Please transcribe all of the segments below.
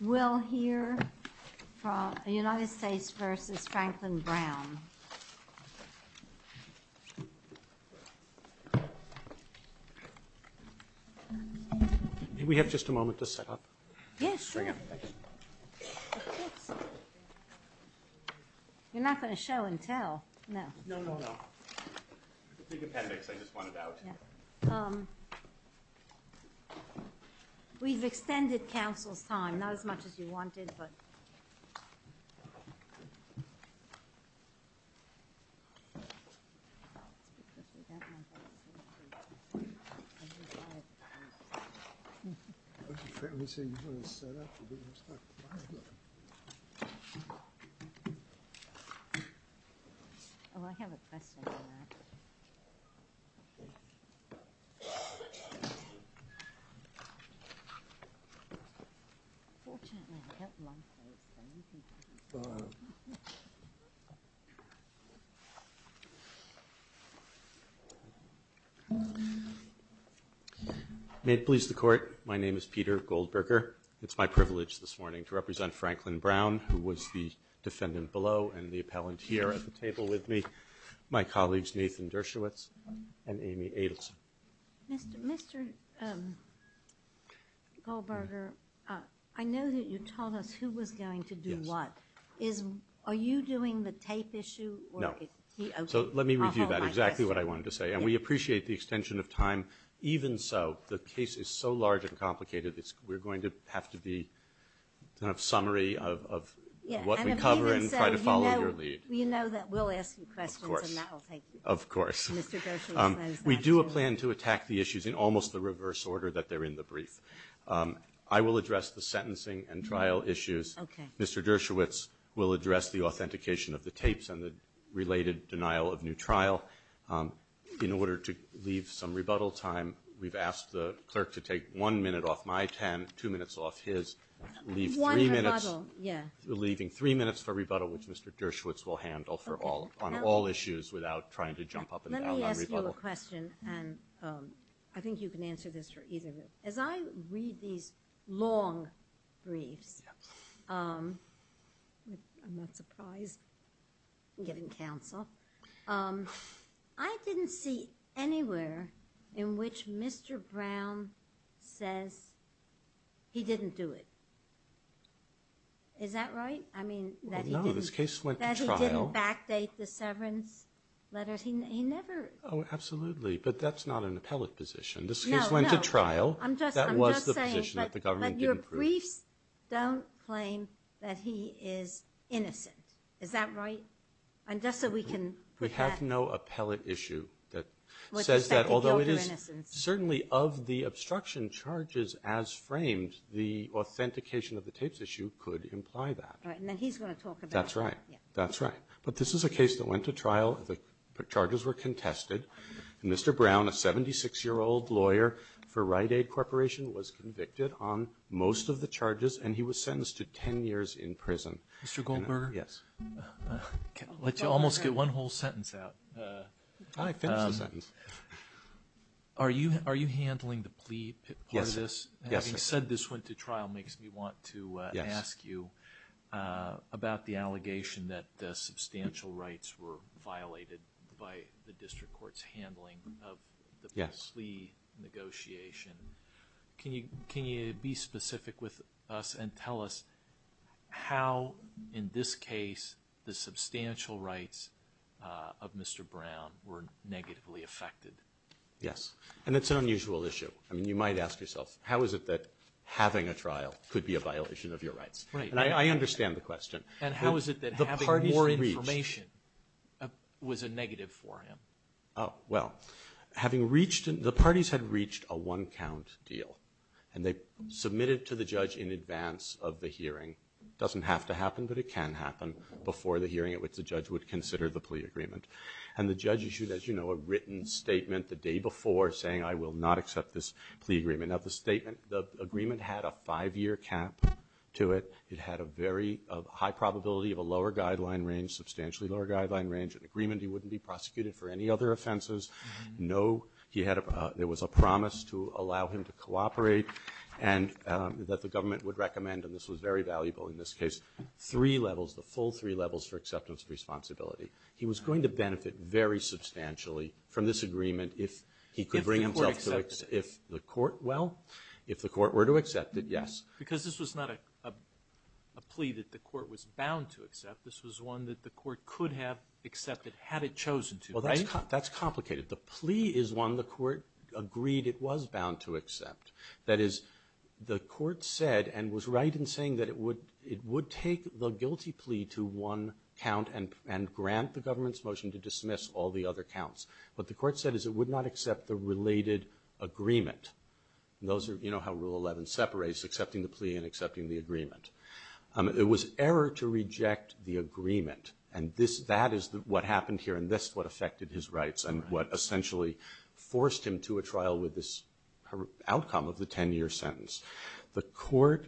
We'll hear from the United States v. Franklin Brown. We have just a moment to set up. Yes, sure. You're not going to show and tell? No. No, no, no. It's a big appendix. I just want it out. We've extended Council's time, not as much as you wanted, but... That's a fairly unusual setup. Oh, I have a question for that. Fortunately, I don't want those things. May it please the Court, my name is Peter Goldberger. It's my privilege this morning to represent Franklin Brown, who was the defendant below and the appellant here at the table with me, my colleagues Nathan Dershowitz and Amy Adelson. Mr. Goldberger, I know that you told us who was going to do what. Yes. Are you doing the tape issue? No. So let me review that, exactly what I wanted to say. And we appreciate the extension of time. Even so, the case is so large and complicated, we're going to have to be kind of summary of what we cover and try to follow your lead. You know that we'll ask you questions and that will take you. Of course. Mr. Dershowitz says that. We do plan to attack the issues in almost the reverse order that they're in the brief. I will address the sentencing and trial issues. Okay. Mr. Dershowitz will address the authentication of the tapes and the related denial of new trial. In order to leave some rebuttal time, we've asked the clerk to take one minute off my 10, two minutes off his, leave three minutes... One rebuttal, yeah. Leaving three minutes for rebuttal, which Mr. Dershowitz will handle on all issues without trying to jump up and down on rebuttal. Let me ask you a question, and I think you can answer this for either of you. As I read these long briefs, I'm not surprised, given counsel, I didn't see anywhere in which Mr. Brown says he didn't do it. Is that right? No, this case went to trial. That he didn't backdate the severance letters. He never... Oh, absolutely, but that's not an appellate position. No, no. This case went to trial. That was the position that the government didn't approve. But your briefs don't claim that he is innocent. Is that right? Just so we can put that... We have no appellate issue that says that, although it is certainly of the obstruction charges as framed, the authentication of the tapes issue could imply that. Right, and then he's going to talk about it. That's right. That's right. But this is a case that went to trial. The charges were contested. Mr. Brown, a 76-year-old lawyer for Rite Aid Corporation, was convicted on most of the charges, and he was sentenced to 10 years in prison. Mr. Goldberger? Yes. I'll let you almost get one whole sentence out. I finished the sentence. Are you handling the plea part of this? Yes. Having said this went to trial makes me want to ask you about the allegation that substantial rights were violated by the district court's handling of the plea negotiation. Can you be specific with us and tell us how, in this case, the substantial rights of Mr. Brown were negatively affected? Yes, and it's an unusual issue. I mean, you might ask yourself, how is it that having a trial could be a violation of your rights? Right. And I understand the question. And how is it that having more information was a negative for him? Well, the parties had reached a one-count deal, and they submitted to the judge in advance of the hearing. It doesn't have to happen, but it can happen, before the hearing at which the judge would consider the plea agreement. And the judge issued, as you know, a written statement the day before, saying, I will not accept this plea agreement. Now, the agreement had a five-year cap to it. It had a very high probability of a lower guideline range, substantially lower guideline range, an agreement he wouldn't be prosecuted for any other offenses. No, there was a promise to allow him to cooperate, and that the government would recommend, and this was very valuable in this case, three levels, the full three levels for acceptance of responsibility. He was going to benefit very substantially from this agreement if he could bring himself to accept it. If the court accepted it. Well, if the court were to accept it, yes. Because this was not a plea that the court was bound to accept. This was one that the court could have accepted had it chosen to, right? Well, that's complicated. The plea is one the court agreed it was bound to accept. That is, the court said and was right in saying that it would take the guilty plea to one count and grant the government's motion to dismiss all the other counts. What the court said is it would not accept the related agreement. You know how Rule 11 separates accepting the plea and accepting the agreement. It was error to reject the agreement, and that is what happened here, and this is what affected his rights and what essentially forced him to a trial with this outcome of the 10-year sentence. The court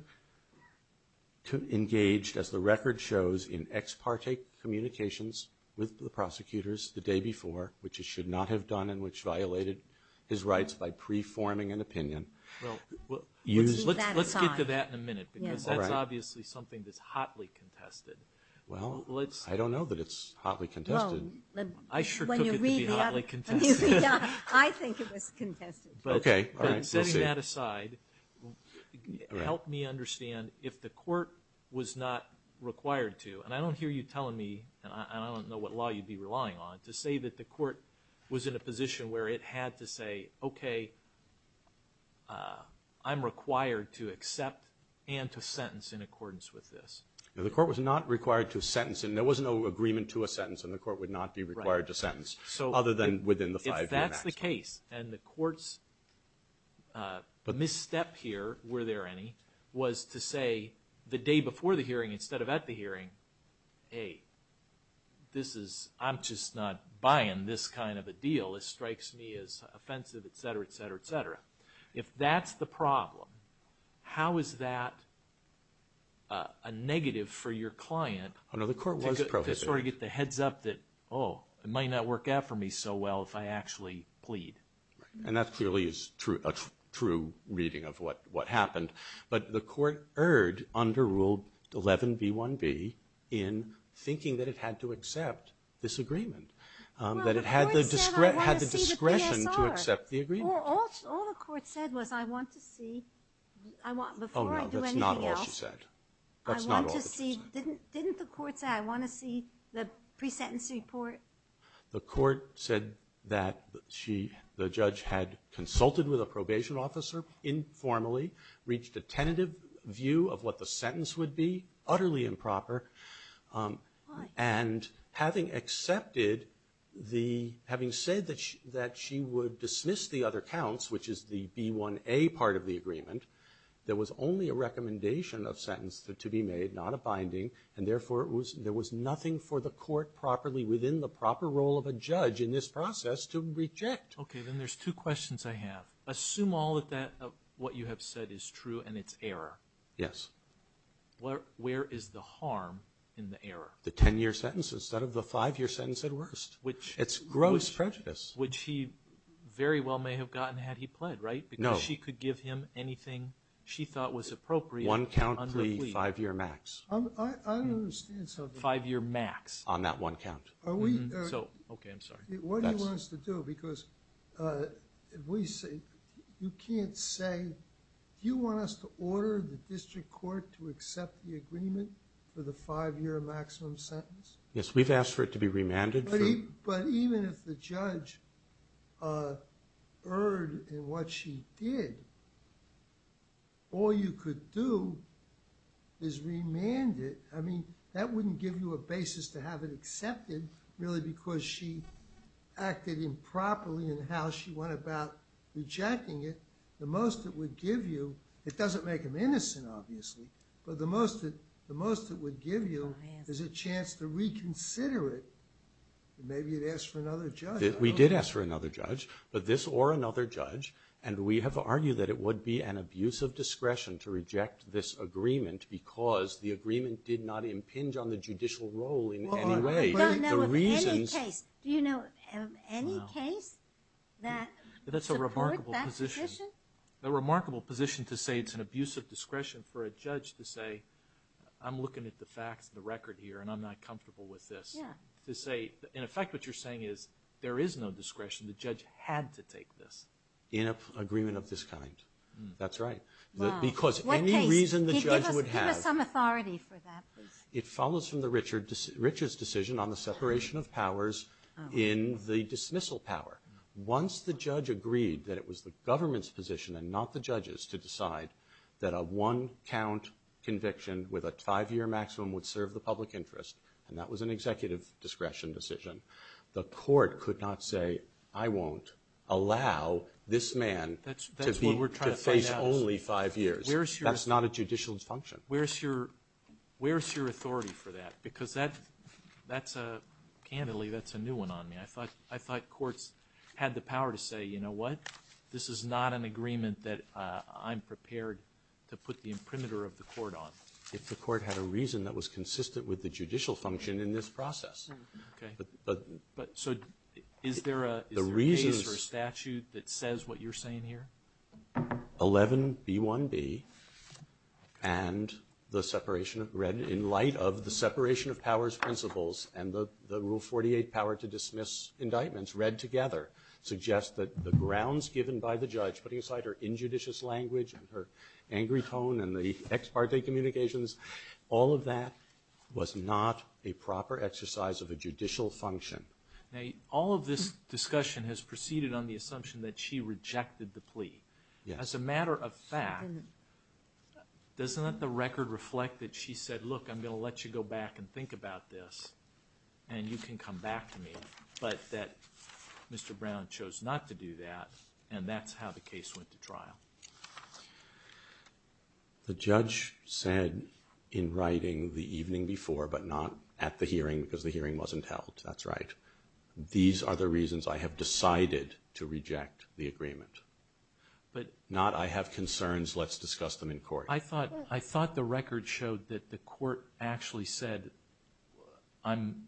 engaged, as the record shows, in ex parte communications with the prosecutors the day before, which it should not have done and which violated his rights by preforming an opinion. Well, let's leave that aside. Let's get to that in a minute because that's obviously something that's hotly contested. Well, I don't know that it's hotly contested. I sure took it to be hotly contested. I think it was contested. Okay, all right, we'll see. But setting that aside helped me understand if the court was not required to, and I don't hear you telling me, and I don't know what law you'd be relying on, to say that the court was in a position where it had to say, okay, I'm required to accept and to sentence in accordance with this. The court was not required to sentence, and there was no agreement to a sentence, and the court would not be required to sentence other than within the 5-year maximum. That's the case. And the court's misstep here, were there any, was to say the day before the hearing instead of at the hearing, hey, I'm just not buying this kind of a deal. This strikes me as offensive, et cetera, et cetera, et cetera. If that's the problem, how is that a negative for your client to sort of get the heads up that, oh, it might not work out for me so well if I actually plead. And that clearly is a true reading of what happened. But the court erred under Rule 11b1b in thinking that it had to accept this agreement, that it had the discretion to accept the agreement. All the court said was I want to see, before I do anything else. Oh, no, that's not all she said. That's not all she said. Didn't the court say I want to see the pre-sentence report? The court said that the judge had consulted with a probation officer informally, reached a tentative view of what the sentence would be, utterly improper. And having accepted the, having said that she would dismiss the other counts, which is the B1a part of the agreement, there was only a recommendation of sentence to be made, not a binding, and therefore there was nothing for the court properly within the proper role of a judge in this process to reject. Okay. Then there's two questions I have. Assume all that what you have said is true and it's error. Yes. Where is the harm in the error? The 10-year sentence instead of the five-year sentence at worst. It's gross prejudice. Which he very well may have gotten had he pled, right? No. She could give him anything she thought was appropriate. One count plea, five-year max. I don't understand something. Five-year max. On that one count. Okay. I'm sorry. What do you want us to do? Because you can't say, do you want us to order the district court to accept the agreement for the five-year maximum sentence? Yes. We've asked for it to be remanded. But even if the judge erred in what she did, all you could do is remand it. I mean, that wouldn't give you a basis to have it accepted, really because she acted improperly in how she went about rejecting it. The most it would give you, it doesn't make him innocent, obviously, but the most it would give you is a chance to reconsider it Maybe you'd ask for another judge. We did ask for another judge, but this or another judge, and we have argued that it would be an abuse of discretion to reject this agreement because the agreement did not impinge on the judicial role in any way. Well, I don't know of any case. Do you know of any case that supports that position? That's a remarkable position to say it's an abuse of discretion for a judge to say, I'm looking at the facts of the record here and I'm not comfortable with this. In effect, what you're saying is there is no discretion. The judge had to take this. In an agreement of this kind. That's right. Because any reason the judge would have. Give us some authority for that. It follows from Richard's decision on the separation of powers in the dismissal power. Once the judge agreed that it was the government's position and not the judge's to decide that a one-count conviction with a five-year maximum would serve the public interest, and that was an executive discretion decision, the court could not say, I won't allow this man to face only five years. That's not a judicial function. Where's your authority for that? Because that's a, candidly, that's a new one on me. I thought courts had the power to say, you know what, this is not an agreement that I'm prepared to put the imprimatur of the court on. If the court had a reason that was consistent with the judicial function in this process. Okay. So is there a case or a statute that says what you're saying here? 11B1B and the separation of, read in light of the separation of powers principles and the Rule 48 power to dismiss indictments read together, suggest that the grounds given by the judge, putting aside her injudicious language and her angry tone and the ex parte communications, all of that was not a proper exercise of a judicial function. Now all of this discussion has proceeded on the assumption that she rejected the plea. Yes. As a matter of fact, doesn't the record reflect that she said, look, I'm going to let you go back and think about this, and you can come back to me, but that Mr. Brown chose not to do that, and that's how the case went to trial. The judge said in writing the evening before, but not at the hearing because the hearing wasn't held. That's right. These are the reasons I have decided to reject the agreement. Not I have concerns, let's discuss them in court. I thought the record showed that the court actually said, I'm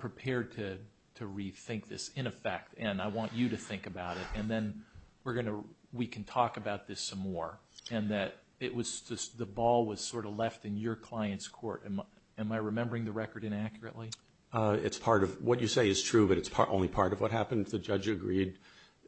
prepared to rethink this in effect, and I want you to think about it, and then we can talk about this some more, and that the ball was sort of left in your client's court. Am I remembering the record inaccurately? What you say is true, but it's only part of what happened. The judge agreed,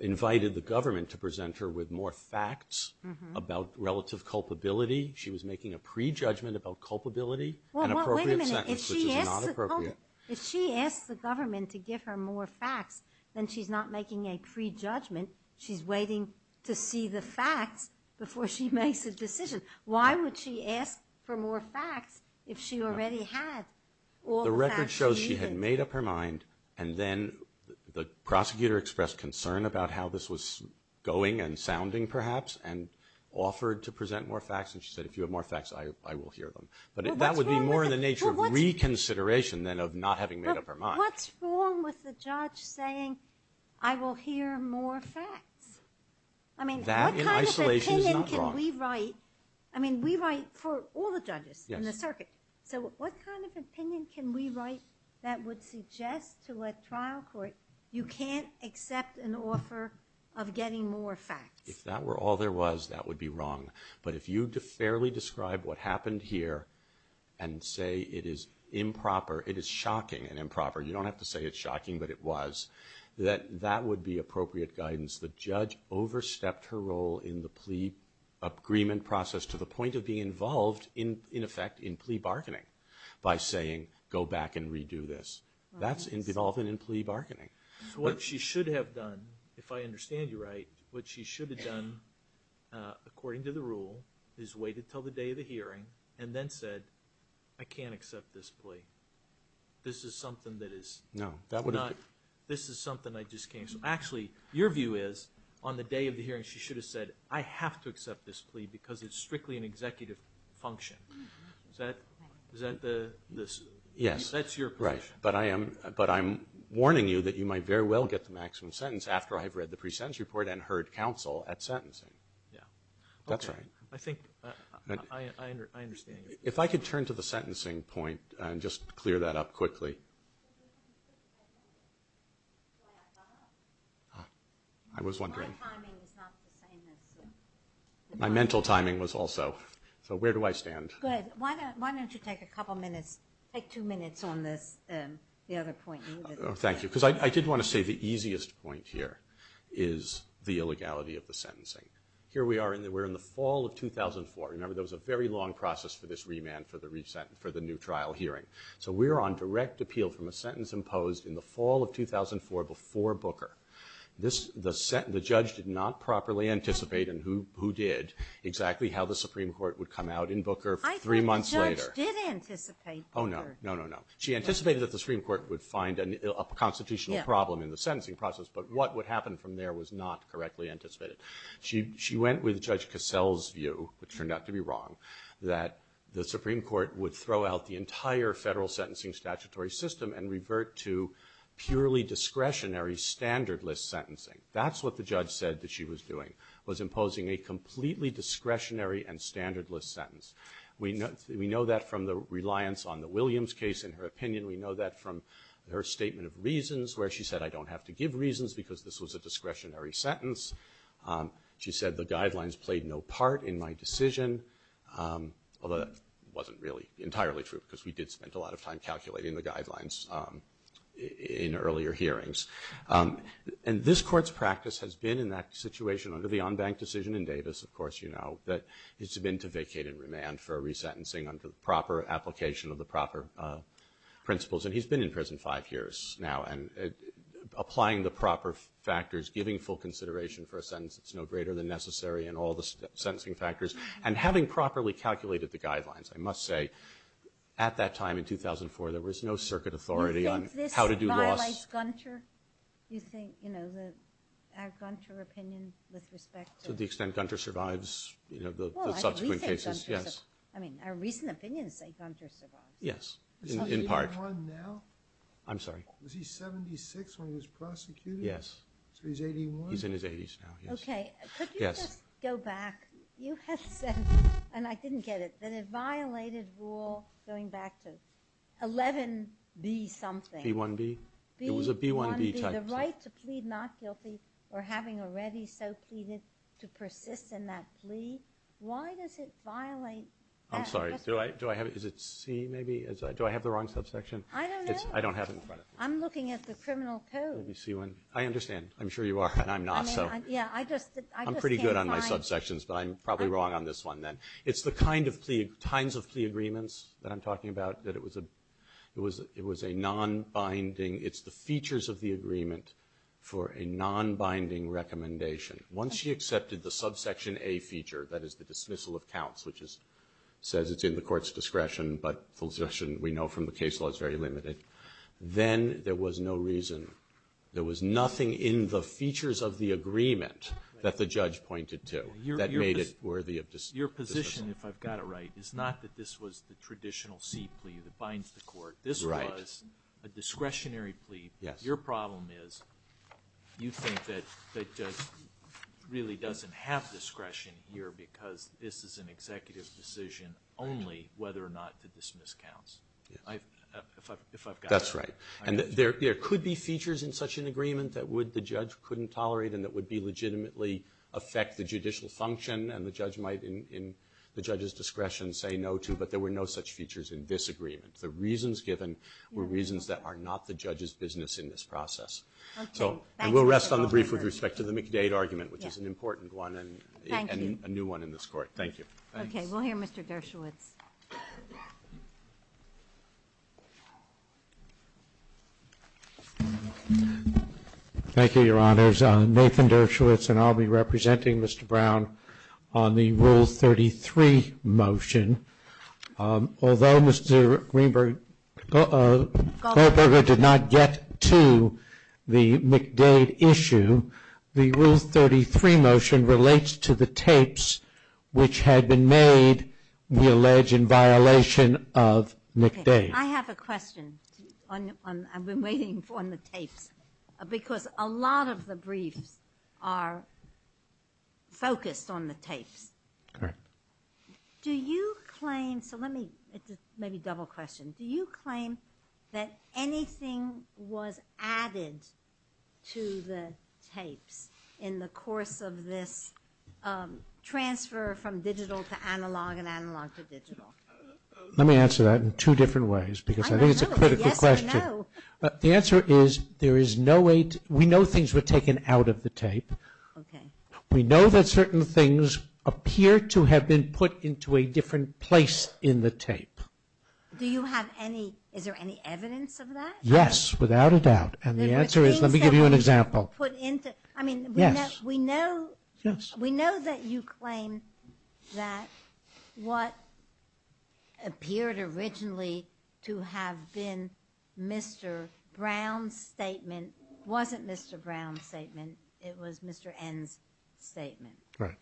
invited the government to present her with more facts about relative culpability. She was making a prejudgment about culpability and appropriate sentence, which is not appropriate. If she asks the government to give her more facts, then she's not making a prejudgment. She's waiting to see the facts before she makes a decision. Why would she ask for more facts if she already had all the facts she needed? The record shows she had made up her mind, and then the prosecutor expressed concern about how this was going and sounding perhaps, and offered to present more facts, and she said, if you have more facts, I will hear them. But that would be more in the nature of reconsideration than of not having made up her mind. What's wrong with the judge saying, I will hear more facts? That in isolation is not wrong. I mean, we write for all the judges in the circuit. So what kind of opinion can we write that would suggest to a trial court, you can't accept an offer of getting more facts? If that were all there was, that would be wrong. But if you fairly describe what happened here and say it is improper, it is shocking and improper, you don't have to say it's shocking, but it was, that that would be appropriate guidance. The judge overstepped her role in the plea agreement process to the point of being involved, in effect, in plea bargaining by saying, go back and redo this. That's involvement in plea bargaining. So what she should have done, if I understand you right, what she should have done, according to the rule, is waited until the day of the hearing and then said, I can't accept this plea. This is something that is not, this is something I just can't. So actually, your view is, on the day of the hearing, she should have said, I have to accept this plea because it's strictly an executive function. Is that the, that's your position. Yes, right. But I'm warning you that you might very well get the maximum sentence after I've read the pre-sentence report and heard counsel at sentencing. Yeah. That's right. Okay. I think, I understand you. If I could turn to the sentencing point and just clear that up quickly. I was wondering. My timing is not the same as. My mental timing was also. So where do I stand? Good. Why don't you take a couple minutes, take two minutes on this, the other point. Thank you. Because I did want to say the easiest point here is the illegality of the sentencing. Here we are, we're in the fall of 2004. Remember, there was a very long process for this remand for the new trial hearing. So we're on direct appeal from a sentence imposed in the fall of 2004 before Booker. The judge did not properly anticipate, and who did, exactly how the Supreme Court would come out in Booker three months later. I think the judge did anticipate Booker. Oh, no. No, no, no. She anticipated that the Supreme Court would find a constitutional problem in the sentencing process, but what would happen from there was not correctly anticipated. She went with Judge Cassell's view, which turned out to be wrong, that the Supreme Court would throw out the entire federal sentencing statutory system and revert to purely discretionary, standardless sentencing. That's what the judge said that she was doing, was imposing a completely discretionary and standardless sentence. We know that from the reliance on the Williams case in her opinion. We know that from her statement of reasons where she said, I don't have to give reasons because this was a discretionary sentence. She said the guidelines played no part in my decision, although that wasn't really entirely true because we did spend a lot of time calculating the guidelines in earlier hearings. And this court's practice has been in that situation under the on-bank decision in Davis, of course you know, that it's been to vacate and remand for resentencing under the proper application of the proper principles. And he's been in prison five years now, and applying the proper factors, giving full consideration for a sentence that's no greater than necessary and all the sentencing factors, and having properly calculated the guidelines, I must say, at that time in 2004 there was no circuit authority on how to do laws. Do you think this violates Gunter? Do you think, you know, the Gunter opinion with respect to the extent Gunter survives, you know, the subsequent cases? Yes. I mean, our recent opinions say Gunter survives. In part. Is he 81 now? I'm sorry? Was he 76 when he was prosecuted? Yes. So he's 81? He's in his 80s now, yes. Okay. Yes. Could you just go back? You have said, and I didn't get it, that it violated rule going back to 11B something. B1B? It was a B1B type thing. The right to plead not guilty or having already so pleaded to persist in that plea, why does it violate that? I'm sorry. Do I have it? Is it C maybe? Do I have the wrong subsection? I don't know. I don't have it in front of me. I'm looking at the criminal code. Let me see one. I understand. I'm sure you are, and I'm not, so. Yeah, I just can't find. I'm pretty good on my subsections, but I'm probably wrong on this one then. It's the kinds of plea agreements that I'm talking about that it was a non-binding. It's the features of the agreement for a non-binding recommendation. Once she accepted the subsection A feature, that is the dismissal of counts, which says it's in the court's discretion, but the discretion we know from the case law is very limited, then there was no reason. There was nothing in the features of the agreement that the judge pointed to that made it worthy of dismissal. Your position, if I've got it right, is not that this was the traditional C plea that binds the court. Right. It was a discretionary plea. Yes. Your problem is you think that it really doesn't have discretion here because this is an executive decision only whether or not to dismiss counts, if I've got that right. That's right. And there could be features in such an agreement that the judge couldn't tolerate and that would legitimately affect the judicial function, and the judge might in the judge's discretion say no to, but there were no such features in this agreement. The reasons given were reasons that are not the judge's business in this process. Okay. And we'll rest on the brief with respect to the McDade argument, which is an important one. Thank you. And a new one in this court. Thank you. Okay. We'll hear Mr. Dershowitz. Thank you, Your Honors. Nathan Dershowitz, and I'll be representing Mr. Brown on the Rule 33 motion. Although Mr. Greenberger did not get to the McDade issue, the Rule 33 motion relates to the tapes which had been made, we allege, in violation of McDade. Okay. I have a question. I've been waiting on the tapes because a lot of the briefs are focused on the tapes. Correct. Do you claim, so let me, maybe double question. Do you claim that anything was added to the tapes in the course of this transfer from digital to analog and analog to digital? Let me answer that in two different ways because I think it's a critical question. Yes, I know. The answer is there is no way, we know things were taken out of the tape. Okay. We know that certain things appear to have been put into a different place in the tape. Do you have any, is there any evidence of that? Yes, without a doubt. And the answer is, let me give you an example. I mean, we know that you claim that what appeared originally to have been Mr. Brown's statement wasn't Mr. Brown's statement. It was Mr. N's statement. Right.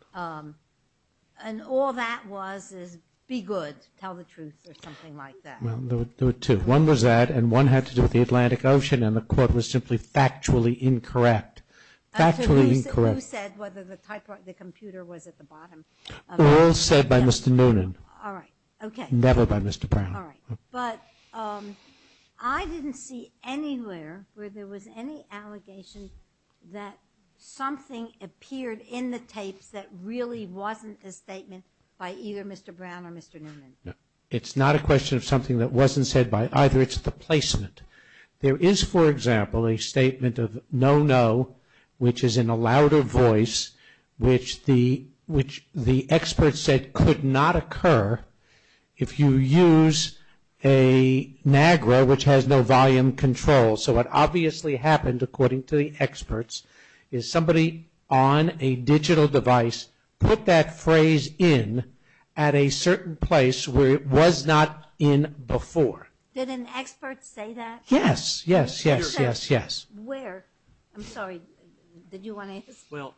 And all that was is, be good, tell the truth, or something like that. Well, there were two. One was that, and one had to do with the Atlantic Ocean, and the court was simply factually incorrect. Factually incorrect. Who said whether the typewriter, the computer was at the bottom? All said by Mr. Noonan. All right. Okay. Never by Mr. Brown. All right. But I didn't see anywhere where there was any allegation that something appeared in the tapes that really wasn't a statement by either Mr. Brown or Mr. Noonan. No. It's not a question of something that wasn't said by either. It's the placement. There is, for example, a statement of no-no, which is in a louder voice, which the experts said could not occur if you use a NAGRA, which has no volume control. So what obviously happened, according to the experts, is somebody on a digital device put that phrase in at a certain place where it was not in before. Did an expert say that? Yes. Yes, yes, yes, yes. Where? I'm sorry. Did you want to ask? Well,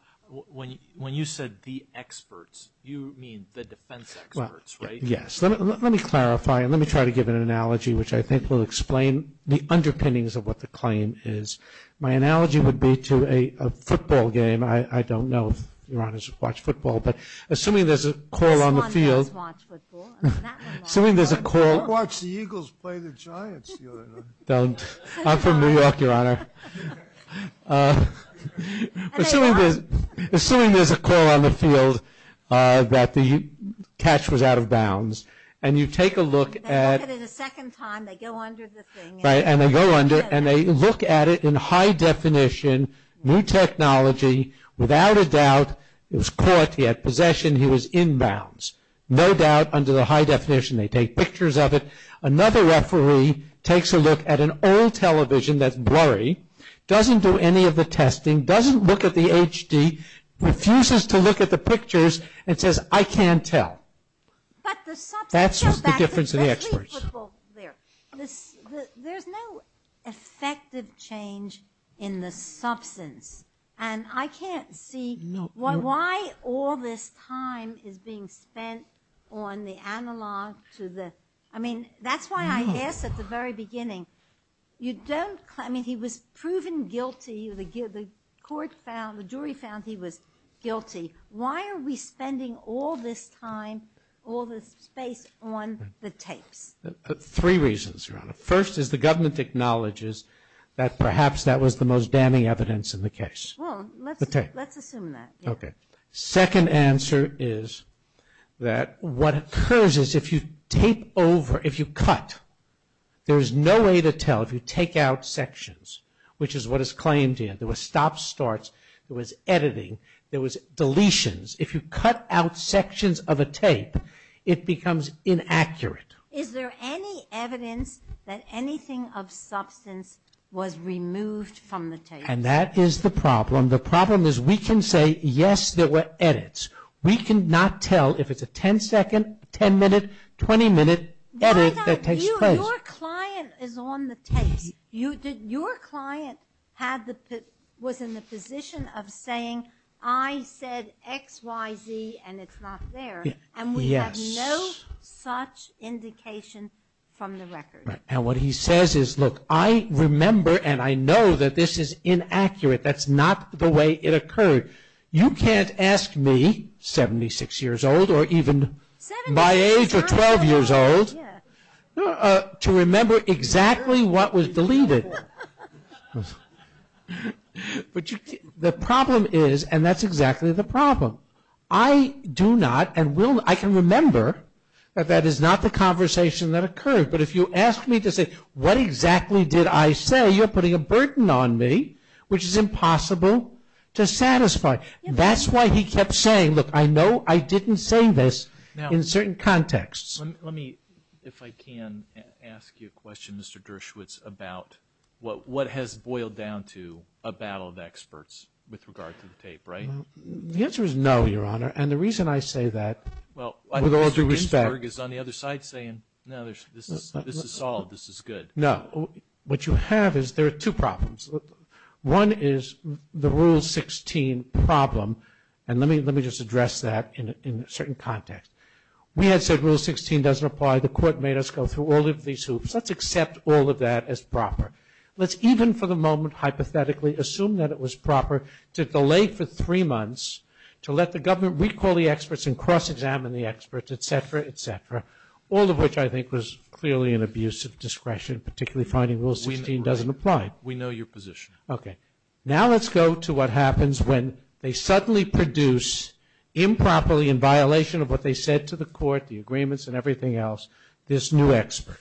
when you said the experts, you mean the defense experts, right? Yes. Let me clarify, and let me try to give an analogy, which I think will explain the underpinnings of what the claim is. My analogy would be to a football game. I don't know if your honors watch football, but assuming there's a call on the field. This one does watch football. Assuming there's a call. I watched the Eagles play the Giants the other night. Don't. I'm from New York, your honor. Assuming there's a call on the field that the catch was out of bounds, and you take a look at. They watch it a second time. They go under the thing. Right, and they go under, and they look at it in high definition, new technology, without a doubt it was caught. He had possession. He was in bounds. No doubt under the high definition. They take pictures of it. Another referee takes a look at an old television that's blurry, doesn't do any of the testing, doesn't look at the HD, refuses to look at the pictures, and says, I can't tell. That's the difference in the experts. There's no effective change in the substance, and I can't see why all this time is being spent on the analog to the. I mean, that's why I asked at the very beginning, you don't. I mean, he was proven guilty. The court found, the jury found he was guilty. Why are we spending all this time, all this space on the tapes? Three reasons, your honor. First is the government acknowledges that perhaps that was the most damning evidence in the case. Well, let's assume that. Okay. Second answer is that what occurs is if you tape over, if you cut, there is no way to tell if you take out sections, which is what is claimed here. There was stop starts. There was editing. There was deletions. If you cut out sections of a tape, it becomes inaccurate. Is there any evidence that anything of substance was removed from the tape? And that is the problem. The problem is we can say, yes, there were edits. We cannot tell if it's a 10-second, 10-minute, 20-minute edit that takes place. Your client is on the tapes. Your client was in the position of saying, I said X, Y, Z, and it's not there. Yes. And we have no such indication from the record. And what he says is, look, I remember and I know that this is inaccurate. That's not the way it occurred. You can't ask me, 76 years old or even my age or 12 years old, to remember exactly what was deleted. But the problem is, and that's exactly the problem, I do not and will not, I can remember that that is not the conversation that occurred. But if you ask me to say, what exactly did I say, you're putting a burden on me, which is impossible to satisfy. That's why he kept saying, look, I know I didn't say this in certain contexts. Let me, if I can, ask you a question, Mr. Dershowitz, about what has boiled down to a battle of experts with regard to the tape, right? The answer is no, Your Honor, and the reason I say that with all due respect. Mr. Berg is on the other side saying, no, this is solved, this is good. No. What you have is there are two problems. One is the Rule 16 problem, and let me just address that in a certain context. We had said Rule 16 doesn't apply. The court made us go through all of these hoops. Let's accept all of that as proper. Let's even for the moment hypothetically assume that it was proper to delay for three months to let the government recall the experts and cross-examine the experts, et cetera, et cetera, all of which I think was clearly an abuse of discretion, particularly finding Rule 16 doesn't apply. We know your position. Okay. Now let's go to what happens when they suddenly produce improperly in violation of what they said to the court, the agreements and everything else, this new expert.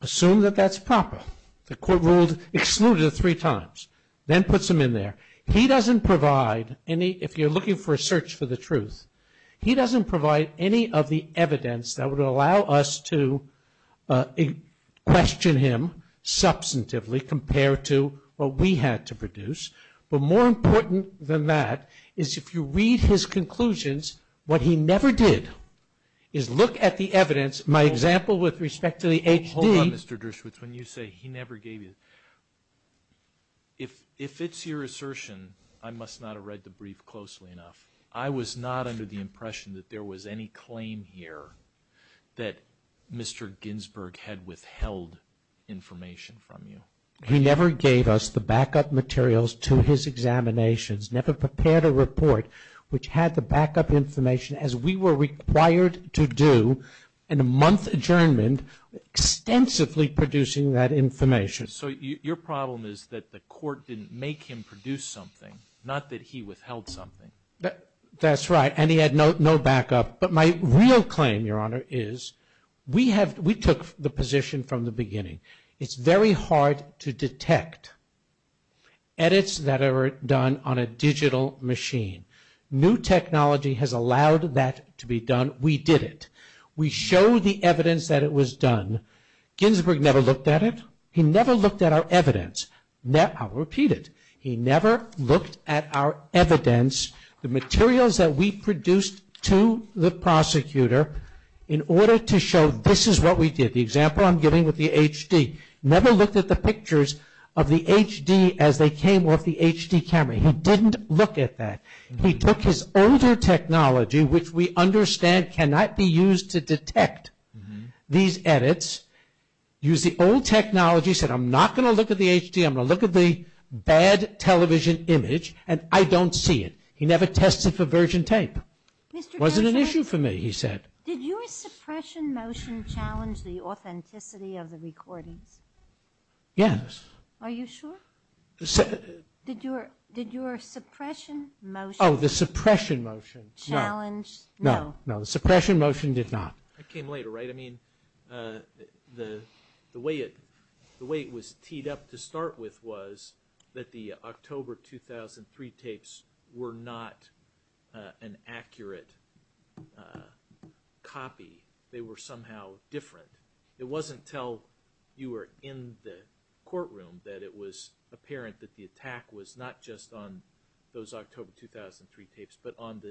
Assume that that's proper. The court ruled excluded three times, then puts him in there. He doesn't provide any, if you're looking for a search for the truth, he doesn't provide any of the evidence that would allow us to question him substantively compared to what we had to produce, but more important than that is if you read his conclusions, what he never did is look at the evidence. My example with respect to the HD. Hold on, Mr. Dershowitz, when you say he never gave you. If it's your assertion, I must not have read the brief closely enough. I was not under the impression that there was any claim here that Mr. Ginsburg had withheld information from you. He never gave us the backup materials to his examinations, never prepared a report which had the backup information as we were required to do and a month adjournment extensively producing that information. So your problem is that the court didn't make him produce something, not that he withheld something. That's right, and he had no backup. But my real claim, Your Honor, is we took the position from the beginning. It's very hard to detect edits that are done on a digital machine. New technology has allowed that to be done. We did it. We showed the evidence that it was done. Ginsburg never looked at it. He never looked at our evidence. I'll repeat it. He never looked at our evidence, the materials that we produced to the prosecutor, in order to show this is what we did. The example I'm giving with the HD. Never looked at the pictures of the HD as they came off the HD camera. He didn't look at that. He took his older technology, which we understand cannot be used to detect these edits, used the old technology, said I'm not going to look at the HD, I'm going to look at the bad television image, and I don't see it. He never tested for virgin tape. It wasn't an issue for me, he said. Did your suppression motion challenge the authenticity of the recordings? Yes. Are you sure? Did your suppression motion challenge? Oh, the suppression motion. No. No, the suppression motion did not. It came later, right? I mean, the way it was teed up to start with was that the October 2003 tapes were not an accurate copy. They were somehow different. It wasn't until you were in the courtroom that it was apparent that the attack was not just on those October 2003 tapes, but on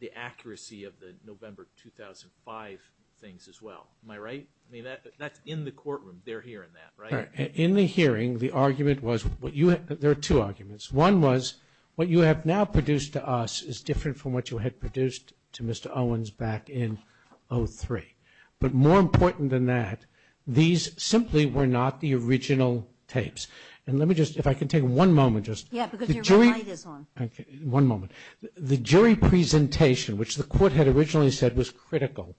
the accuracy of the November 2005 things as well. Am I right? I mean, that's in the courtroom. They're hearing that, right? In the hearing, the argument was what you had – there are two arguments. One was what you have now produced to us is different from what you had produced to Mr. Owens back in 2003. But more important than that, these simply were not the original tapes. And let me just – if I can take one moment just – Yeah, because your red light is on. One moment. The jury presentation, which the court had originally said was critical.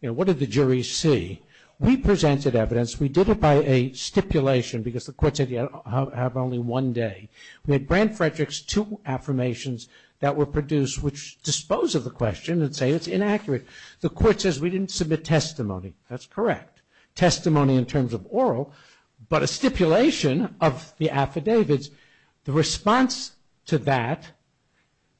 You know, what did the jury see? We presented evidence. We did it by a stipulation because the court said you have only one day. We had Brandt-Frederick's two affirmations that were produced, which dispose of the question and say it's inaccurate. The court says we didn't submit testimony. That's correct. Testimony in terms of oral, but a stipulation of the affidavits. The response to that,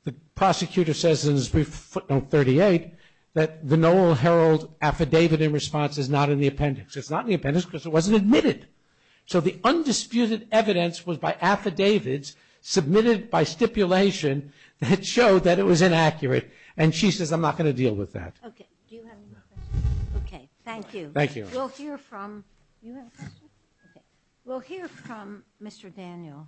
the prosecutor says in his brief footnote 38, that the Noel Herald affidavit in response is not in the appendix. It's not in the appendix because it wasn't admitted. So the undisputed evidence was by affidavits submitted by stipulation that showed that it was inaccurate. And she says I'm not going to deal with that. Okay. Do you have any more questions? No. Okay. Thank you. Thank you. We'll hear from – you have a question? Okay. We'll hear from Mr. Daniel.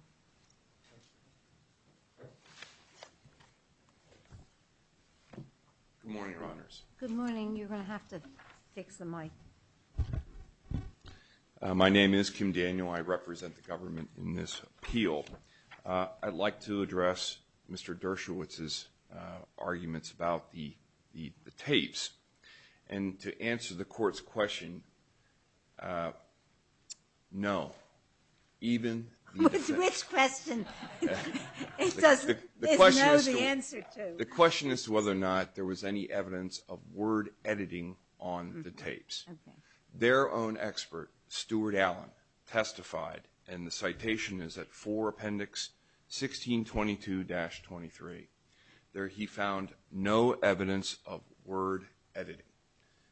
Good morning, Your Honors. Good morning. You're going to have to fix the mic. My name is Kim Daniel. I represent the government in this appeal. I'd like to address Mr. Dershowitz's arguments about the tapes. And to answer the court's question, no. Even the defense. Which question? It doesn't know the answer to. The question is whether or not there was any evidence of word editing on the tapes. Their own expert, Stuart Allen, testified, and the citation is at 4 Appendix 1622-23. There he found no evidence of word editing.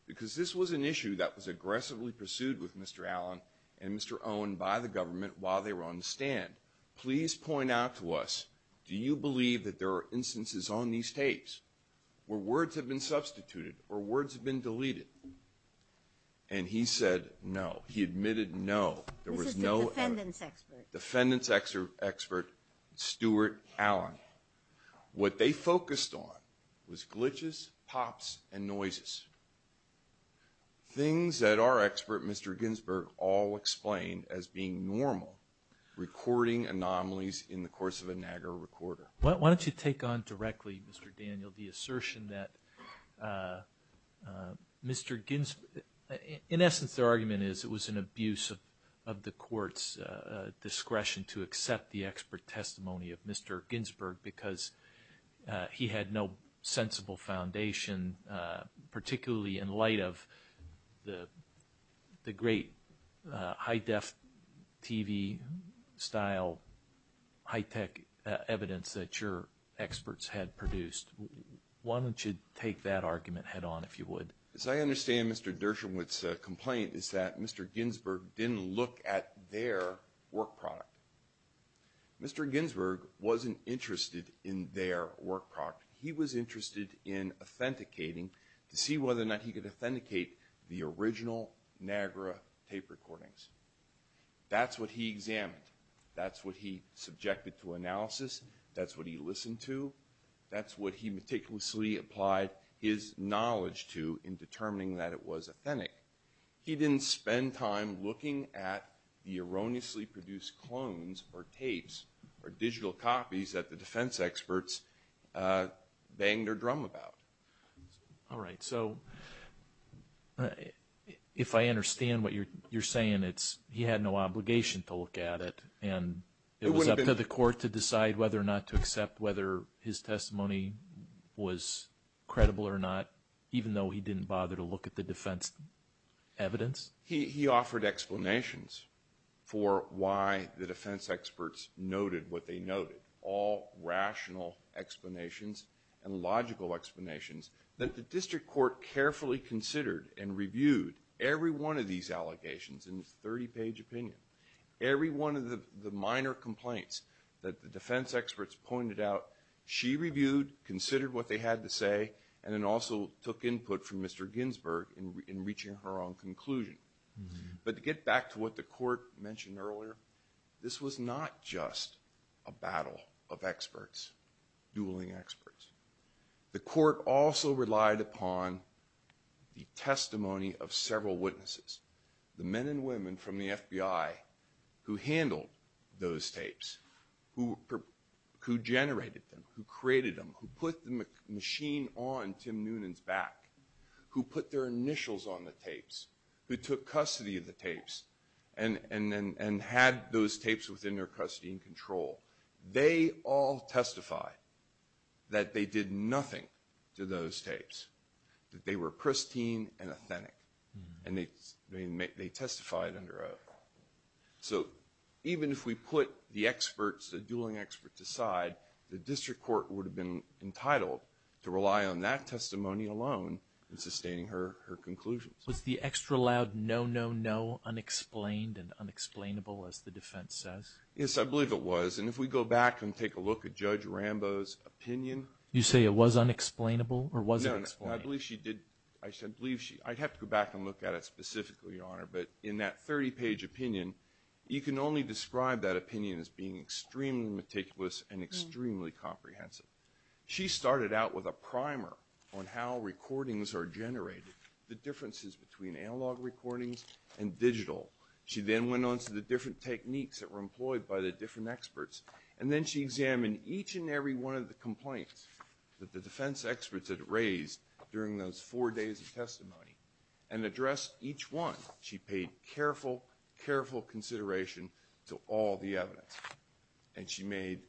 Because this was an issue that was aggressively pursued with Mr. Allen and Mr. Owen by the government while they were on the stand. Please point out to us, do you believe that there are instances on these tapes where words have been substituted or words have been deleted? And he said no. He admitted no. This is the defendant's expert. Defendant's expert, Stuart Allen. What they focused on was glitches, pops, and noises. Things that our expert, Mr. Ginsberg, all explained as being normal. Recording anomalies in the course of a NAGRA recorder. Why don't you take on directly, Mr. Daniel, the assertion that Mr. Ginsberg, in essence their argument is it was an abuse of the court's discretion to accept the expert testimony of Mr. Ginsberg because he had no sensible foundation, particularly in light of the great high def TV style, high tech evidence that your experts had produced. Why don't you take that argument head on if you would. As I understand Mr. Dershowitz's complaint is that Mr. Ginsberg didn't look at their work product. Mr. Ginsberg wasn't interested in their work product. He was interested in authenticating to see whether or not he could authenticate the original NAGRA tape recordings. That's what he examined. That's what he subjected to analysis. That's what he listened to. That's what he meticulously applied his knowledge to in determining that it was authentic. He didn't spend time looking at the erroneously produced clones or tapes or digital copies that the defense experts banged their drum about. All right, so if I understand what you're saying, it's he had no obligation to look at it and it was up to the court to decide whether or not to accept whether his testimony was credible or not, even though he didn't bother to look at the defense evidence? He offered explanations for why the defense experts noted what they noted. He offered all rational explanations and logical explanations that the district court carefully considered and reviewed every one of these allegations in a 30-page opinion. Every one of the minor complaints that the defense experts pointed out, she reviewed, considered what they had to say, and then also took input from Mr. Ginsberg in reaching her own conclusion. But to get back to what the court mentioned earlier, this was not just a battle of experts, dueling experts. The court also relied upon the testimony of several witnesses, the men and women from the FBI who handled those tapes, who generated them, who created them, who put the machine on Tim Noonan's back, who put their initials on the tapes, who took custody of the tapes and had those tapes within their custody and control. They all testified that they did nothing to those tapes, that they were pristine and authentic, and they testified under oath. So even if we put the experts, the dueling experts aside, the district court would have been entitled to rely on that testimony alone in sustaining her conclusions. Was the extra loud no, no, no unexplained and unexplainable, as the defense says? Yes, I believe it was, and if we go back and take a look at Judge Rambo's opinion. You say it was unexplainable or was it unexplainable? I'd have to go back and look at it specifically, Your Honor, but in that 30-page opinion, you can only describe that opinion as being extremely meticulous and extremely comprehensive. She started out with a primer on how recordings are generated, the differences between analog recordings and digital. She then went on to the different techniques that were employed by the different experts. And then she examined each and every one of the complaints that the defense experts had raised during those four days of testimony and addressed each one. She paid careful, careful consideration to all the evidence, and she made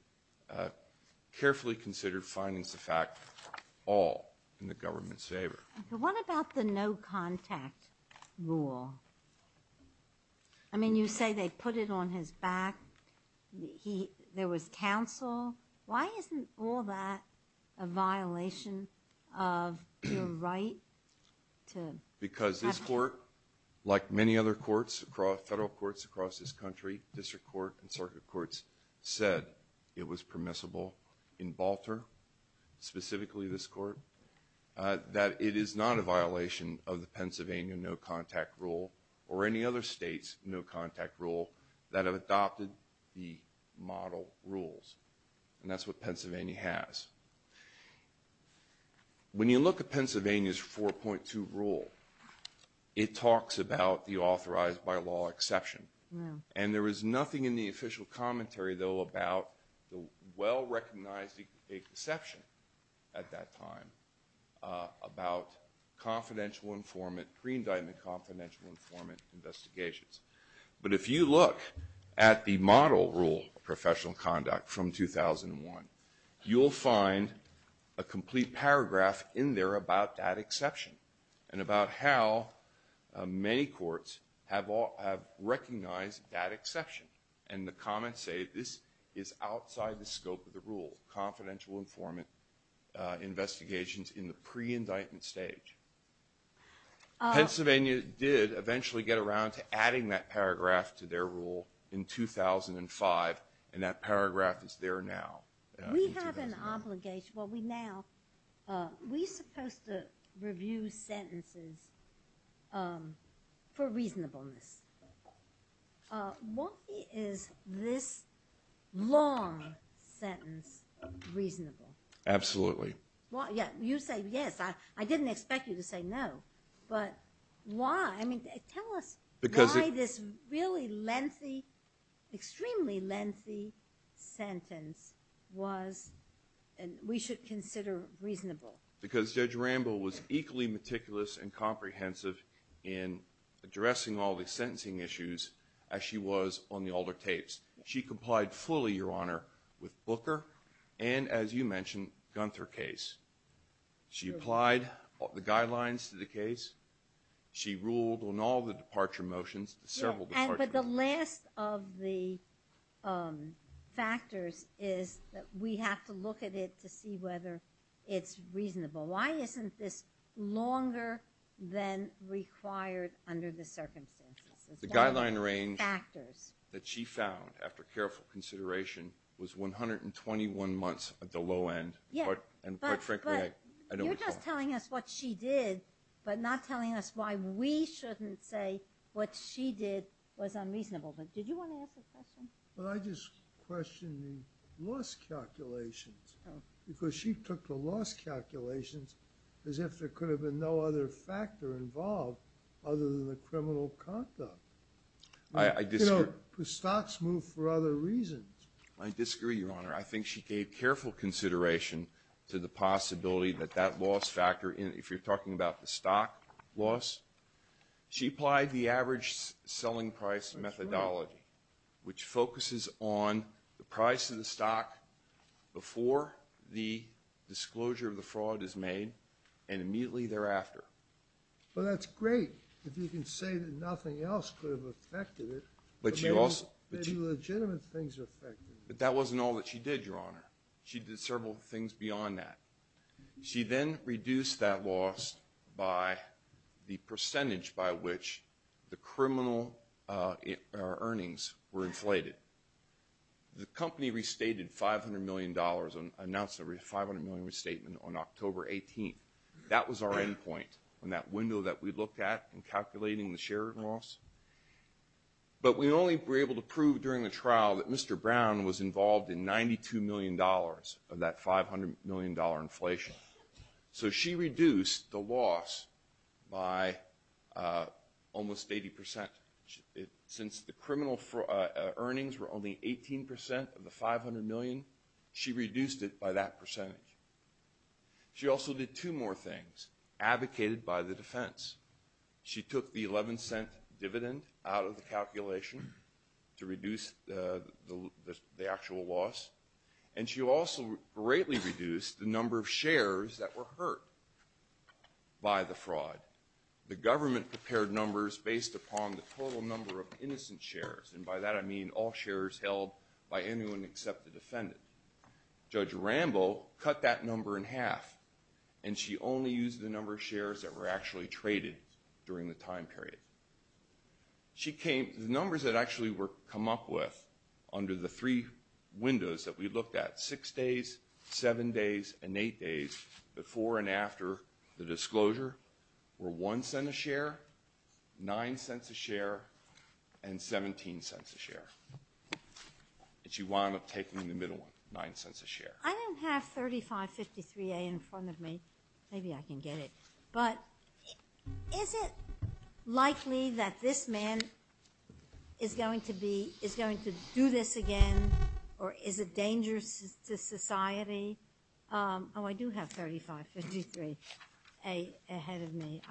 carefully considered findings of fact all in the government's favor. What about the no-contact rule? I mean, you say they put it on his back. There was counsel. Why isn't all that a violation of your right to have to— Because this court, like many other courts, federal courts across this country, district court, and circuit courts, said it was permissible in Balter, specifically this court, that it is not a violation of the Pennsylvania no-contact rule or any other state's no-contact rule that have adopted the model rules. And that's what Pennsylvania has. When you look at Pennsylvania's 4.2 rule, it talks about the authorized by law exception. And there was nothing in the official commentary, though, about the well-recognized exception at that time about confidential informant, pre-indictment confidential informant investigations. But if you look at the model rule of professional conduct from 2001, you'll find a complete paragraph in there about that exception and about how many courts have recognized that exception. And the comments say this is outside the scope of the rule, confidential informant investigations in the pre-indictment stage. Pennsylvania did eventually get around to adding that paragraph to their rule in 2005, and that paragraph is there now. We have an obligation—well, we now—we're supposed to review sentences for reasonableness. Why is this long sentence reasonable? Absolutely. Well, yeah, you say yes. I didn't expect you to say no. But why? I mean, tell us why this really lengthy, extremely lengthy sentence was—we should consider reasonable. Because Judge Rambo was equally meticulous and comprehensive in addressing all the sentencing issues as she was on the older tapes. She complied fully, Your Honor, with Booker and, as you mentioned, Gunther case. She applied the guidelines to the case. She ruled on all the departure motions, several departure motions. But the last of the factors is that we have to look at it to see whether it's reasonable. Why isn't this longer than required under the circumstances? The guideline range that she found, after careful consideration, was 121 months at the low end. And quite frankly, I don't recall— But you're just telling us what she did, but not telling us why we shouldn't say what she did was unreasonable. But did you want to ask a question? Well, I just questioned the loss calculations, because she took the loss calculations as if there could have been no other factor involved other than the criminal conduct. I disagree. The stocks moved for other reasons. I disagree, Your Honor. I think she gave careful consideration to the possibility that that loss factor, if you're talking about the stock loss, she applied the average selling price methodology, which focuses on the price of the stock before the disclosure of the fraud is made and immediately thereafter. Well, that's great if you can say that nothing else could have affected it, but maybe legitimate things affected it. But that wasn't all that she did, Your Honor. She did several things beyond that. She then reduced that loss by the percentage by which the criminal earnings were inflated. The company restated $500 million, announced a $500 million restatement on October 18th. That was our end point in that window that we looked at in calculating the share loss. But we only were able to prove during the trial that Mr. Brown was involved in $92 million of that $500 million inflation. So she reduced the loss by almost 80%. Since the criminal earnings were only 18% of the $500 million, she reduced it by that percentage. She also did two more things, advocated by the defense. She took the $0.11 dividend out of the calculation to reduce the actual loss, and she also greatly reduced the number of shares that were hurt by the fraud. The government prepared numbers based upon the total number of innocent shares, and by that I mean all shares held by anyone except the defendant. Judge Rambo cut that number in half, and she only used the number of shares that were actually traded during the time period. The numbers that actually were come up with under the three windows that we looked at, six days, seven days, and eight days, before and after the disclosure, were $0.01 a share, $0.09 a share, and $0.17 a share. And she wound up taking the middle one, $0.09 a share. I don't have 3553A in front of me. Maybe I can get it. But is it likely that this man is going to do this again, or is it dangerous to society? Oh, I do have 3553A ahead of me.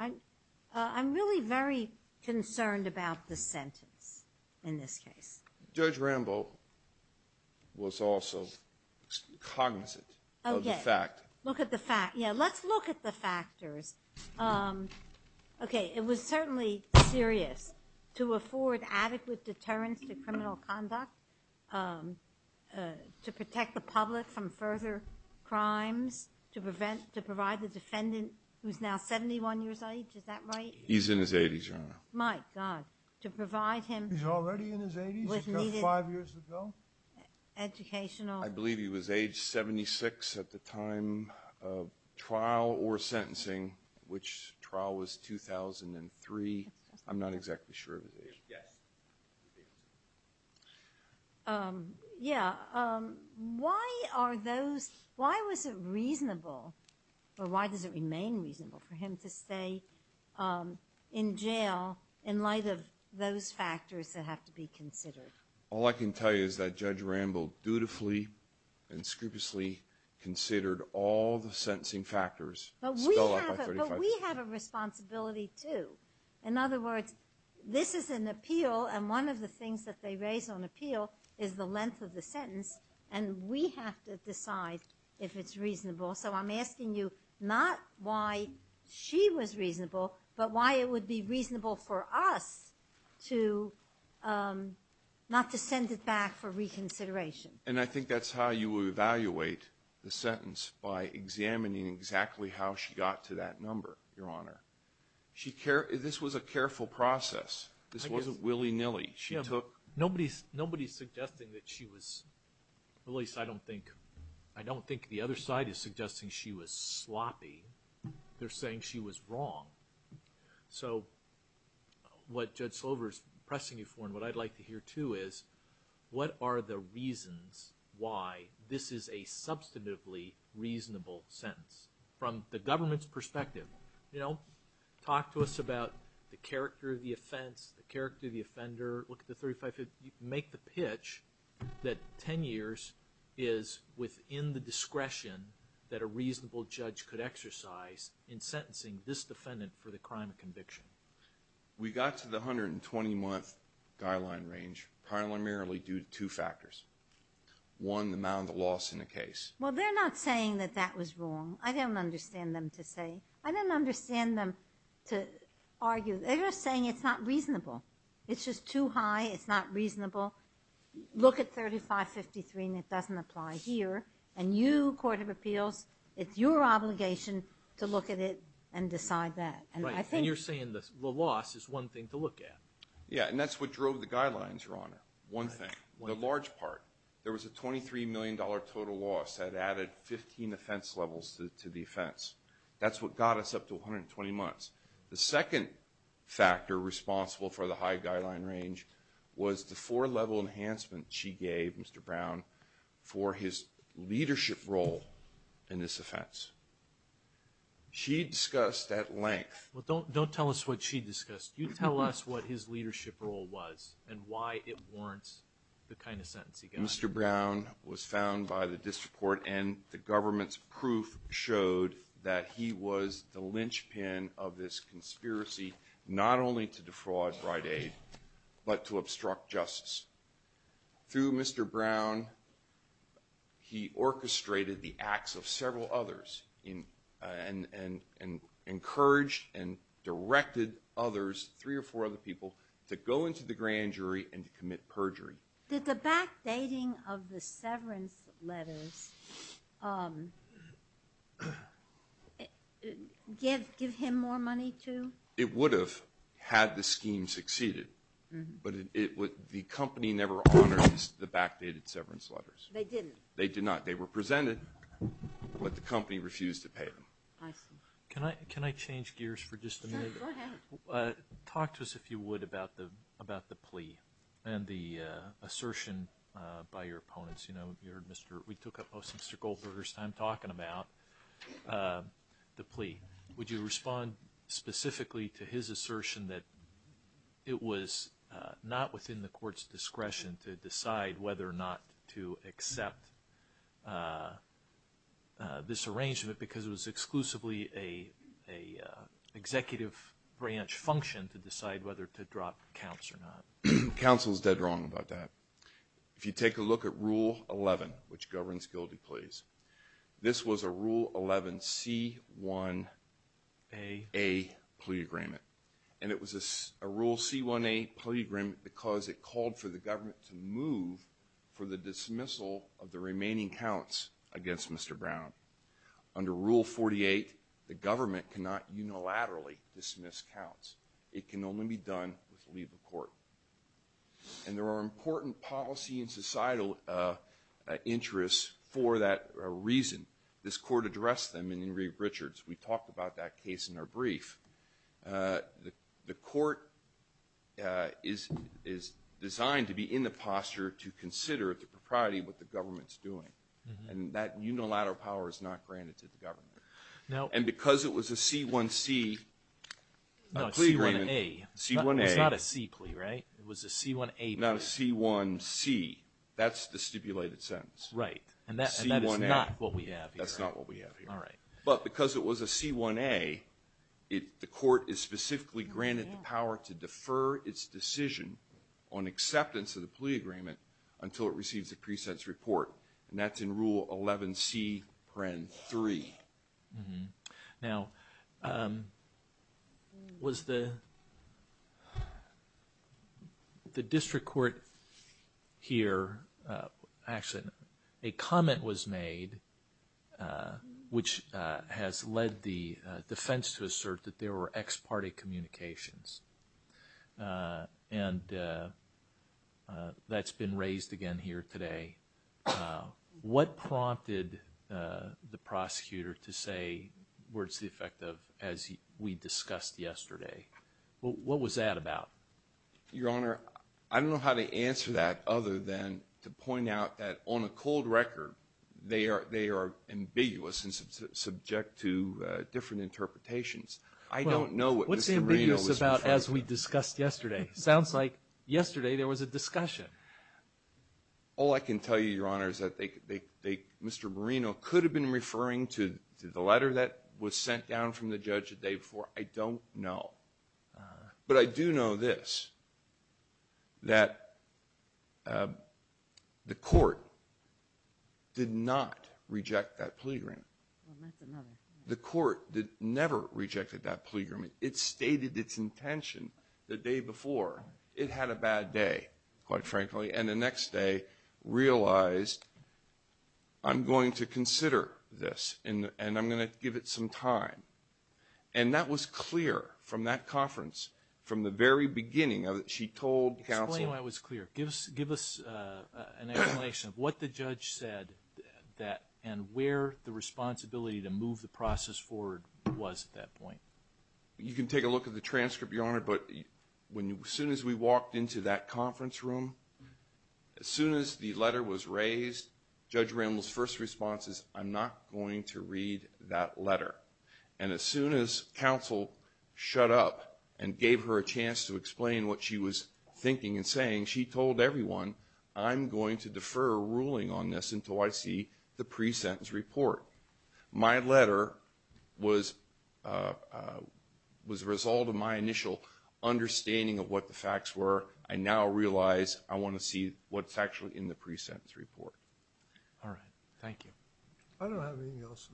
I'm really very concerned about the sentence in this case. Judge Rambo was also cognizant of the fact. Okay. Look at the fact. Yeah, let's look at the factors. Okay, it was certainly serious to afford adequate deterrence to criminal conduct, to protect the public from further crimes, to provide the defendant who is now 71 years old. Is that right? He's in his 80s, Your Honor. My God. To provide him with needed educational. I believe he was age 76 at the time of trial or sentencing, which trial was 2003. I'm not exactly sure of his age. Yes. Yeah. Why was it reasonable, or why does it remain reasonable for him to stay in jail in light of those factors that have to be considered? All I can tell you is that Judge Rambo dutifully and scrupulously considered all the sentencing factors. But we have a responsibility, too. In other words, this is an appeal, and one of the things that they raise on appeal is the length of the sentence, and we have to decide if it's reasonable. So I'm asking you not why she was reasonable, but why it would be reasonable for us not to send it back for reconsideration. And I think that's how you would evaluate the sentence, by examining exactly how she got to that number, Your Honor. This was a careful process. This wasn't willy-nilly. Nobody's suggesting that she was, at least I don't think the other side is suggesting she was sloppy. They're saying she was wrong. So what Judge Slover is pressing you for, and what I'd like to hear, too, is what are the reasons why this is a substantively reasonable sentence? From the government's perspective, you know, talk to us about the character of the offense, the character of the offender, look at the 35-50, make the pitch that 10 years is within the discretion that a reasonable judge could exercise in sentencing this defendant for the crime of conviction. We got to the 120-month guideline range primarily due to two factors. One, the amount of loss in the case. Well, they're not saying that that was wrong. I don't understand them to say. I don't understand them to argue. They're just saying it's not reasonable. It's just too high. It's not reasonable. Look at 35-53, and it doesn't apply here. And you, Court of Appeals, it's your obligation to look at it and decide that. Right, and you're saying the loss is one thing to look at. Yeah, and that's what drove the guidelines, Your Honor, one thing. The large part. There was a $23 million total loss that added 15 offense levels to the offense. That's what got us up to 120 months. The second factor responsible for the high guideline range was the four-level enhancement she gave Mr. Brown for his leadership role in this offense. She discussed at length. Well, don't tell us what she discussed. You tell us what his leadership role was and why it warrants the kind of sentence he got. Mr. Brown was found by the district court, and the government's proof showed that he was the linchpin of this conspiracy, not only to defraud Rite Aid but to obstruct justice. Through Mr. Brown, he orchestrated the acts of several others and encouraged and directed others, three or four other people, to go into the grand jury and to commit perjury. Did the backdating of the severance letters give him more money, too? It would have had the scheme succeeded, but the company never honored the backdated severance letters. They didn't? They did not. They were presented, but the company refused to pay them. I see. Can I change gears for just a minute? Sure, go ahead. Talk to us, if you would, about the plea and the assertion by your opponents. You know, we took up most of Mr. Goldberger's time talking about the plea. Would you respond specifically to his assertion that it was not within the court's discretion to decide whether or not to accept this arrangement because it was exclusively an executive branch function to decide whether to drop counts or not? Counsel is dead wrong about that. If you take a look at Rule 11, which governs guilty pleas, this was a Rule 11C1A plea agreement, and it was a Rule C1A plea agreement because it called for the government to move for the dismissal of the remaining counts against Mr. Brown. Under Rule 48, the government cannot unilaterally dismiss counts. It can only be done with leave of court. And there are important policy and societal interests for that reason. This court addressed them in Ingrid Richards. We talked about that case in our brief. The court is designed to be in the posture to consider at the propriety what the government's doing, and that unilateral power is not granted to the government. And because it was a C1C plea agreement, C1A, it's not a C plea, right? It was a C1A plea. Not a C1C. That's the stipulated sentence. Right, and that is not what we have here. That's not what we have here. All right. But because it was a C1A, the court is specifically granted the power to defer its decision on acceptance of the plea agreement until it receives a pre-sentence report, and that's in Rule 11C3. Mm-hmm. Now, was the district court here, actually a comment was made which has led the defense to assert that there were ex parte communications, and that's been raised again here today. What prompted the prosecutor to say words to the effect of, as we discussed yesterday? What was that about? Your Honor, I don't know how to answer that other than to point out that on a cold record, they are ambiguous and subject to different interpretations. I don't know what Mr. Marino was referring to. What's ambiguous about as we discussed yesterday? Sounds like yesterday there was a discussion. All I can tell you, Your Honor, is that Mr. Marino could have been referring to the letter that was sent down from the judge the day before. I don't know. But I do know this, that the court did not reject that plea agreement. That's another. The court never rejected that plea agreement. It stated its intention the day before. It had a bad day, quite frankly, and the next day realized I'm going to consider this and I'm going to give it some time. And that was clear from that conference, from the very beginning, she told counsel. Explain why it was clear. Give us an explanation of what the judge said and where the responsibility to move the process forward was at that point. You can take a look at the transcript, Your Honor, but as soon as we walked into that conference room, as soon as the letter was raised, Judge Rambl's first response is, I'm not going to read that letter. And as soon as counsel shut up and gave her a chance to explain what she was thinking and saying, she told everyone, I'm going to defer a ruling on this until I see the pre-sentence report. My letter was a result of my initial understanding of what the facts were. I now realize I want to see what's actually in the pre-sentence report. All right. Thank you. I don't have anything else.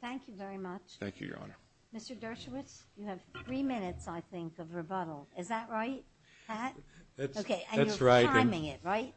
Thank you very much. Thank you, Your Honor. Mr. Dershowitz, you have three minutes, I think, of rebuttal. Is that right, Pat? That's right. And you're timing it, right?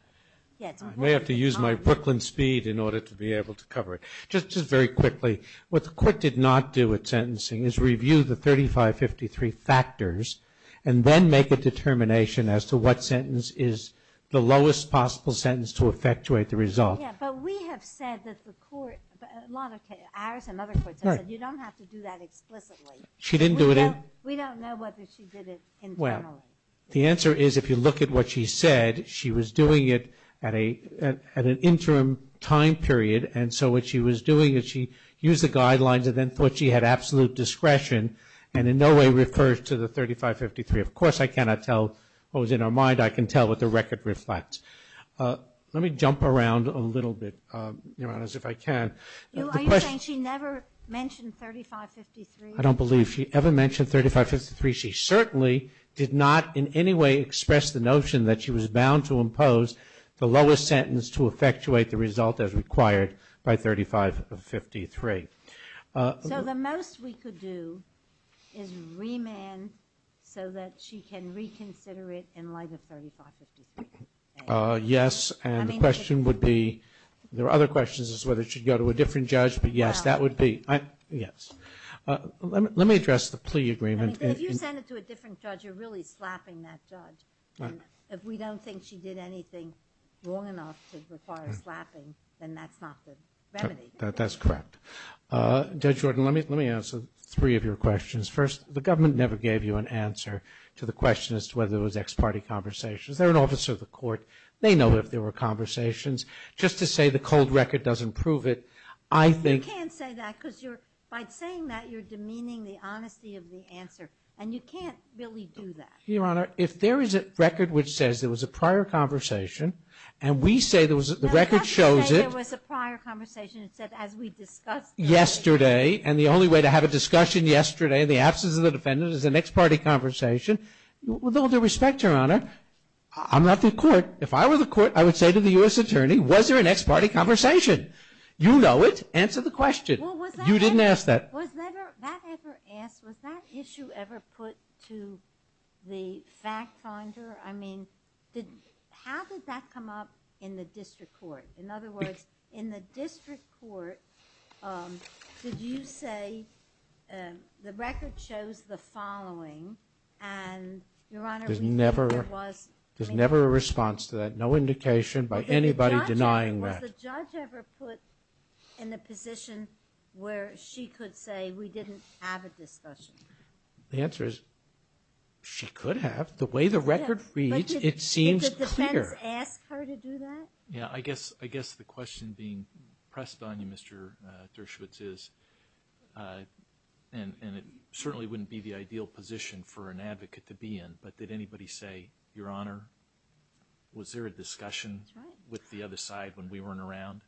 I may have to use my Brooklyn speed in order to be able to cover it. Just very quickly, what the court did not do at sentencing is review the 3553 factors and then make a determination as to what sentence is the lowest possible sentence to effectuate the result. Yeah, but we have said that the court, a lot of ours and other courts have said, you don't have to do that explicitly. She didn't do it in? We don't know whether she did it internally. Well, the answer is if you look at what she said, she was doing it at an interim time period, and so what she was doing is she used the guidelines and then thought she had absolute discretion and in no way refers to the 3553. Of course I cannot tell what was in her mind. I can tell what the record reflects. Let me jump around a little bit, Your Honors, if I can. Are you saying she never mentioned 3553? I don't believe she ever mentioned 3553. She certainly did not in any way express the notion that she was bound to by 3553. So the most we could do is remand so that she can reconsider it in light of 3553. Yes, and the question would be, there are other questions as to whether she should go to a different judge, but yes, that would be, yes. Let me address the plea agreement. If you send it to a different judge, you're really slapping that judge. If we don't think she did anything wrong enough to require slapping, then that's not the remedy. That's correct. Judge Jordan, let me answer three of your questions. First, the government never gave you an answer to the question as to whether it was ex-party conversations. They're an officer of the court. They know if there were conversations. Just to say the cold record doesn't prove it, I think. You can't say that because you're, by saying that you're demeaning the honesty of the answer, and you can't really do that. Your Honor, if there is a record which says there was a prior conversation and we say the record shows it yesterday, and the only way to have a discussion yesterday in the absence of the defendant is an ex-party conversation, with all due respect, Your Honor, I'm not the court. If I were the court, I would say to the U.S. Attorney, was there an ex-party conversation? You know it. Answer the question. You didn't ask that. Was that ever asked? Was that issue ever put to the fact finder? I mean, how did that come up in the district court? In other words, in the district court, did you say the record shows the following, and Your Honor, we think there was. There's never a response to that. No indication by anybody denying that. Was the judge ever put in a position where she could say we didn't have a discussion? The answer is she could have. The way the record reads, it seems clear. Did the defense ask her to do that? Yeah. I guess the question being pressed on you, Mr. Dershowitz, is, and it certainly wouldn't be the ideal position for an advocate to be in, but did anybody say, Your Honor, was there a discussion with the other side when we weren't around?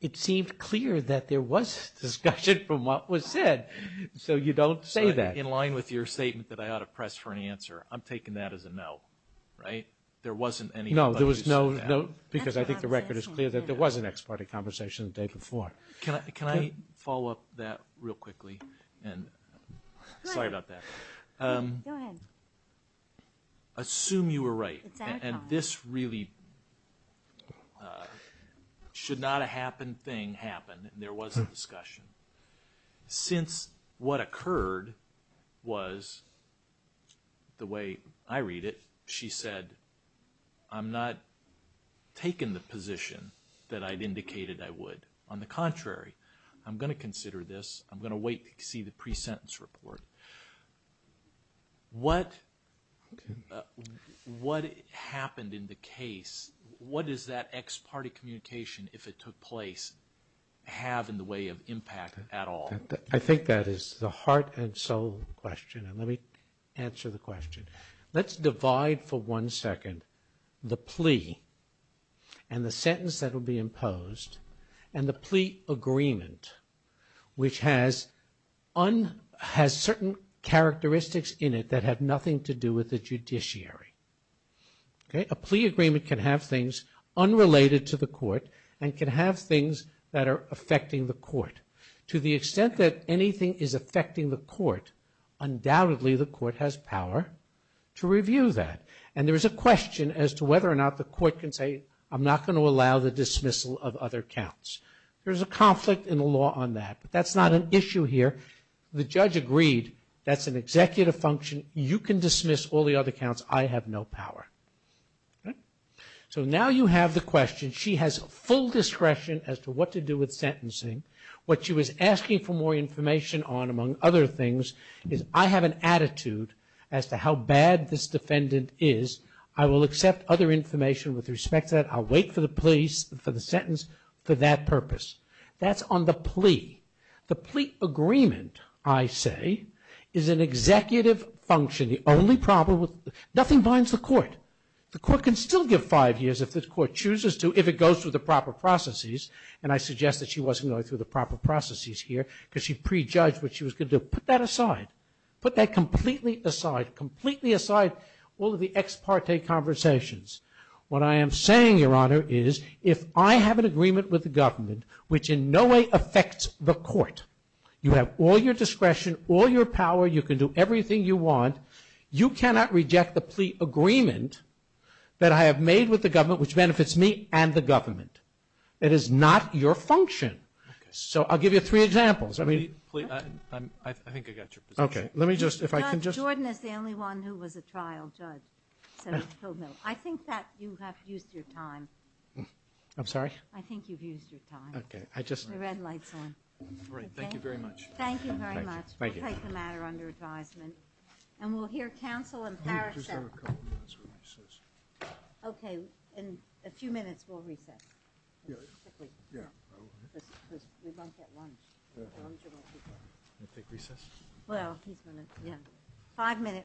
It seemed clear that there was discussion from what was said, so you don't say that. In line with your statement that I ought to press for an answer, I'm taking that as a no, right? There wasn't anybody who said that. No, there was no, because I think the record is clear that there was an ex-party conversation the day before. Can I follow up that real quickly? Sorry about that. Go ahead. Assume you were right, and this really should not a happen thing happen, and there was a discussion. Since what occurred was, the way I read it, she said, I'm not taking the position that I'd indicated I would. On the contrary, I'm going to consider this. I'm going to wait to see the pre-sentence report. What happened in the case, what does that ex-party communication, if it took place, have in the way of impact at all? I think that is the heart and soul question, and let me answer the question. Let's divide for one second the plea and the sentence that will be imposed and the plea agreement, which has certain characteristics in it that have nothing to do with the judiciary. A plea agreement can have things unrelated to the court and can have things that are affecting the court. To the extent that anything is affecting the court, undoubtedly the court has power to review that, and there is a question as to whether or not the court can say, I'm not going to allow the dismissal of other counts. There's a conflict in the law on that, but that's not an issue here. The judge agreed that's an executive function. You can dismiss all the other counts. I have no power. Now you have the question. She has full discretion as to what to do with sentencing. What she was asking for more information on, among other things, is I have an attitude as to how bad this defendant is. I will accept other information with respect to that. I'll wait for the plea, for the sentence, for that purpose. That's on the plea. The plea agreement, I say, is an executive function. The only problem with... nothing binds the court. The court can still give five years if the court chooses to, if it goes through the proper processes, and I suggest that she wasn't going through the proper processes here because she prejudged what she was going to do. Put that aside. Put that completely aside. Completely aside all of the ex parte conversations. What I am saying, Your Honor, is if I have an agreement with the government, which in no way affects the court, you have all your discretion, all your power, you can do everything you want, you cannot reject the plea agreement that I have made with the government, which benefits me and the government. It is not your function. So I'll give you three examples. I think I got your position. Okay. Let me just... Jordan is the only one who was a trial judge. I think that you have used your time. I'm sorry? I think you've used your time. Okay. The red light's on. All right. Thank you very much. Thank you very much. Thank you. We'll take the matter under advisement. And we'll hear counsel and parishes. Let me just have a couple of minutes for recess. Okay. In a few minutes, we'll recess. Yeah. Yeah. We won't get lunch. Lunch won't be good. We'll take recess. Well, he's going to... Yeah.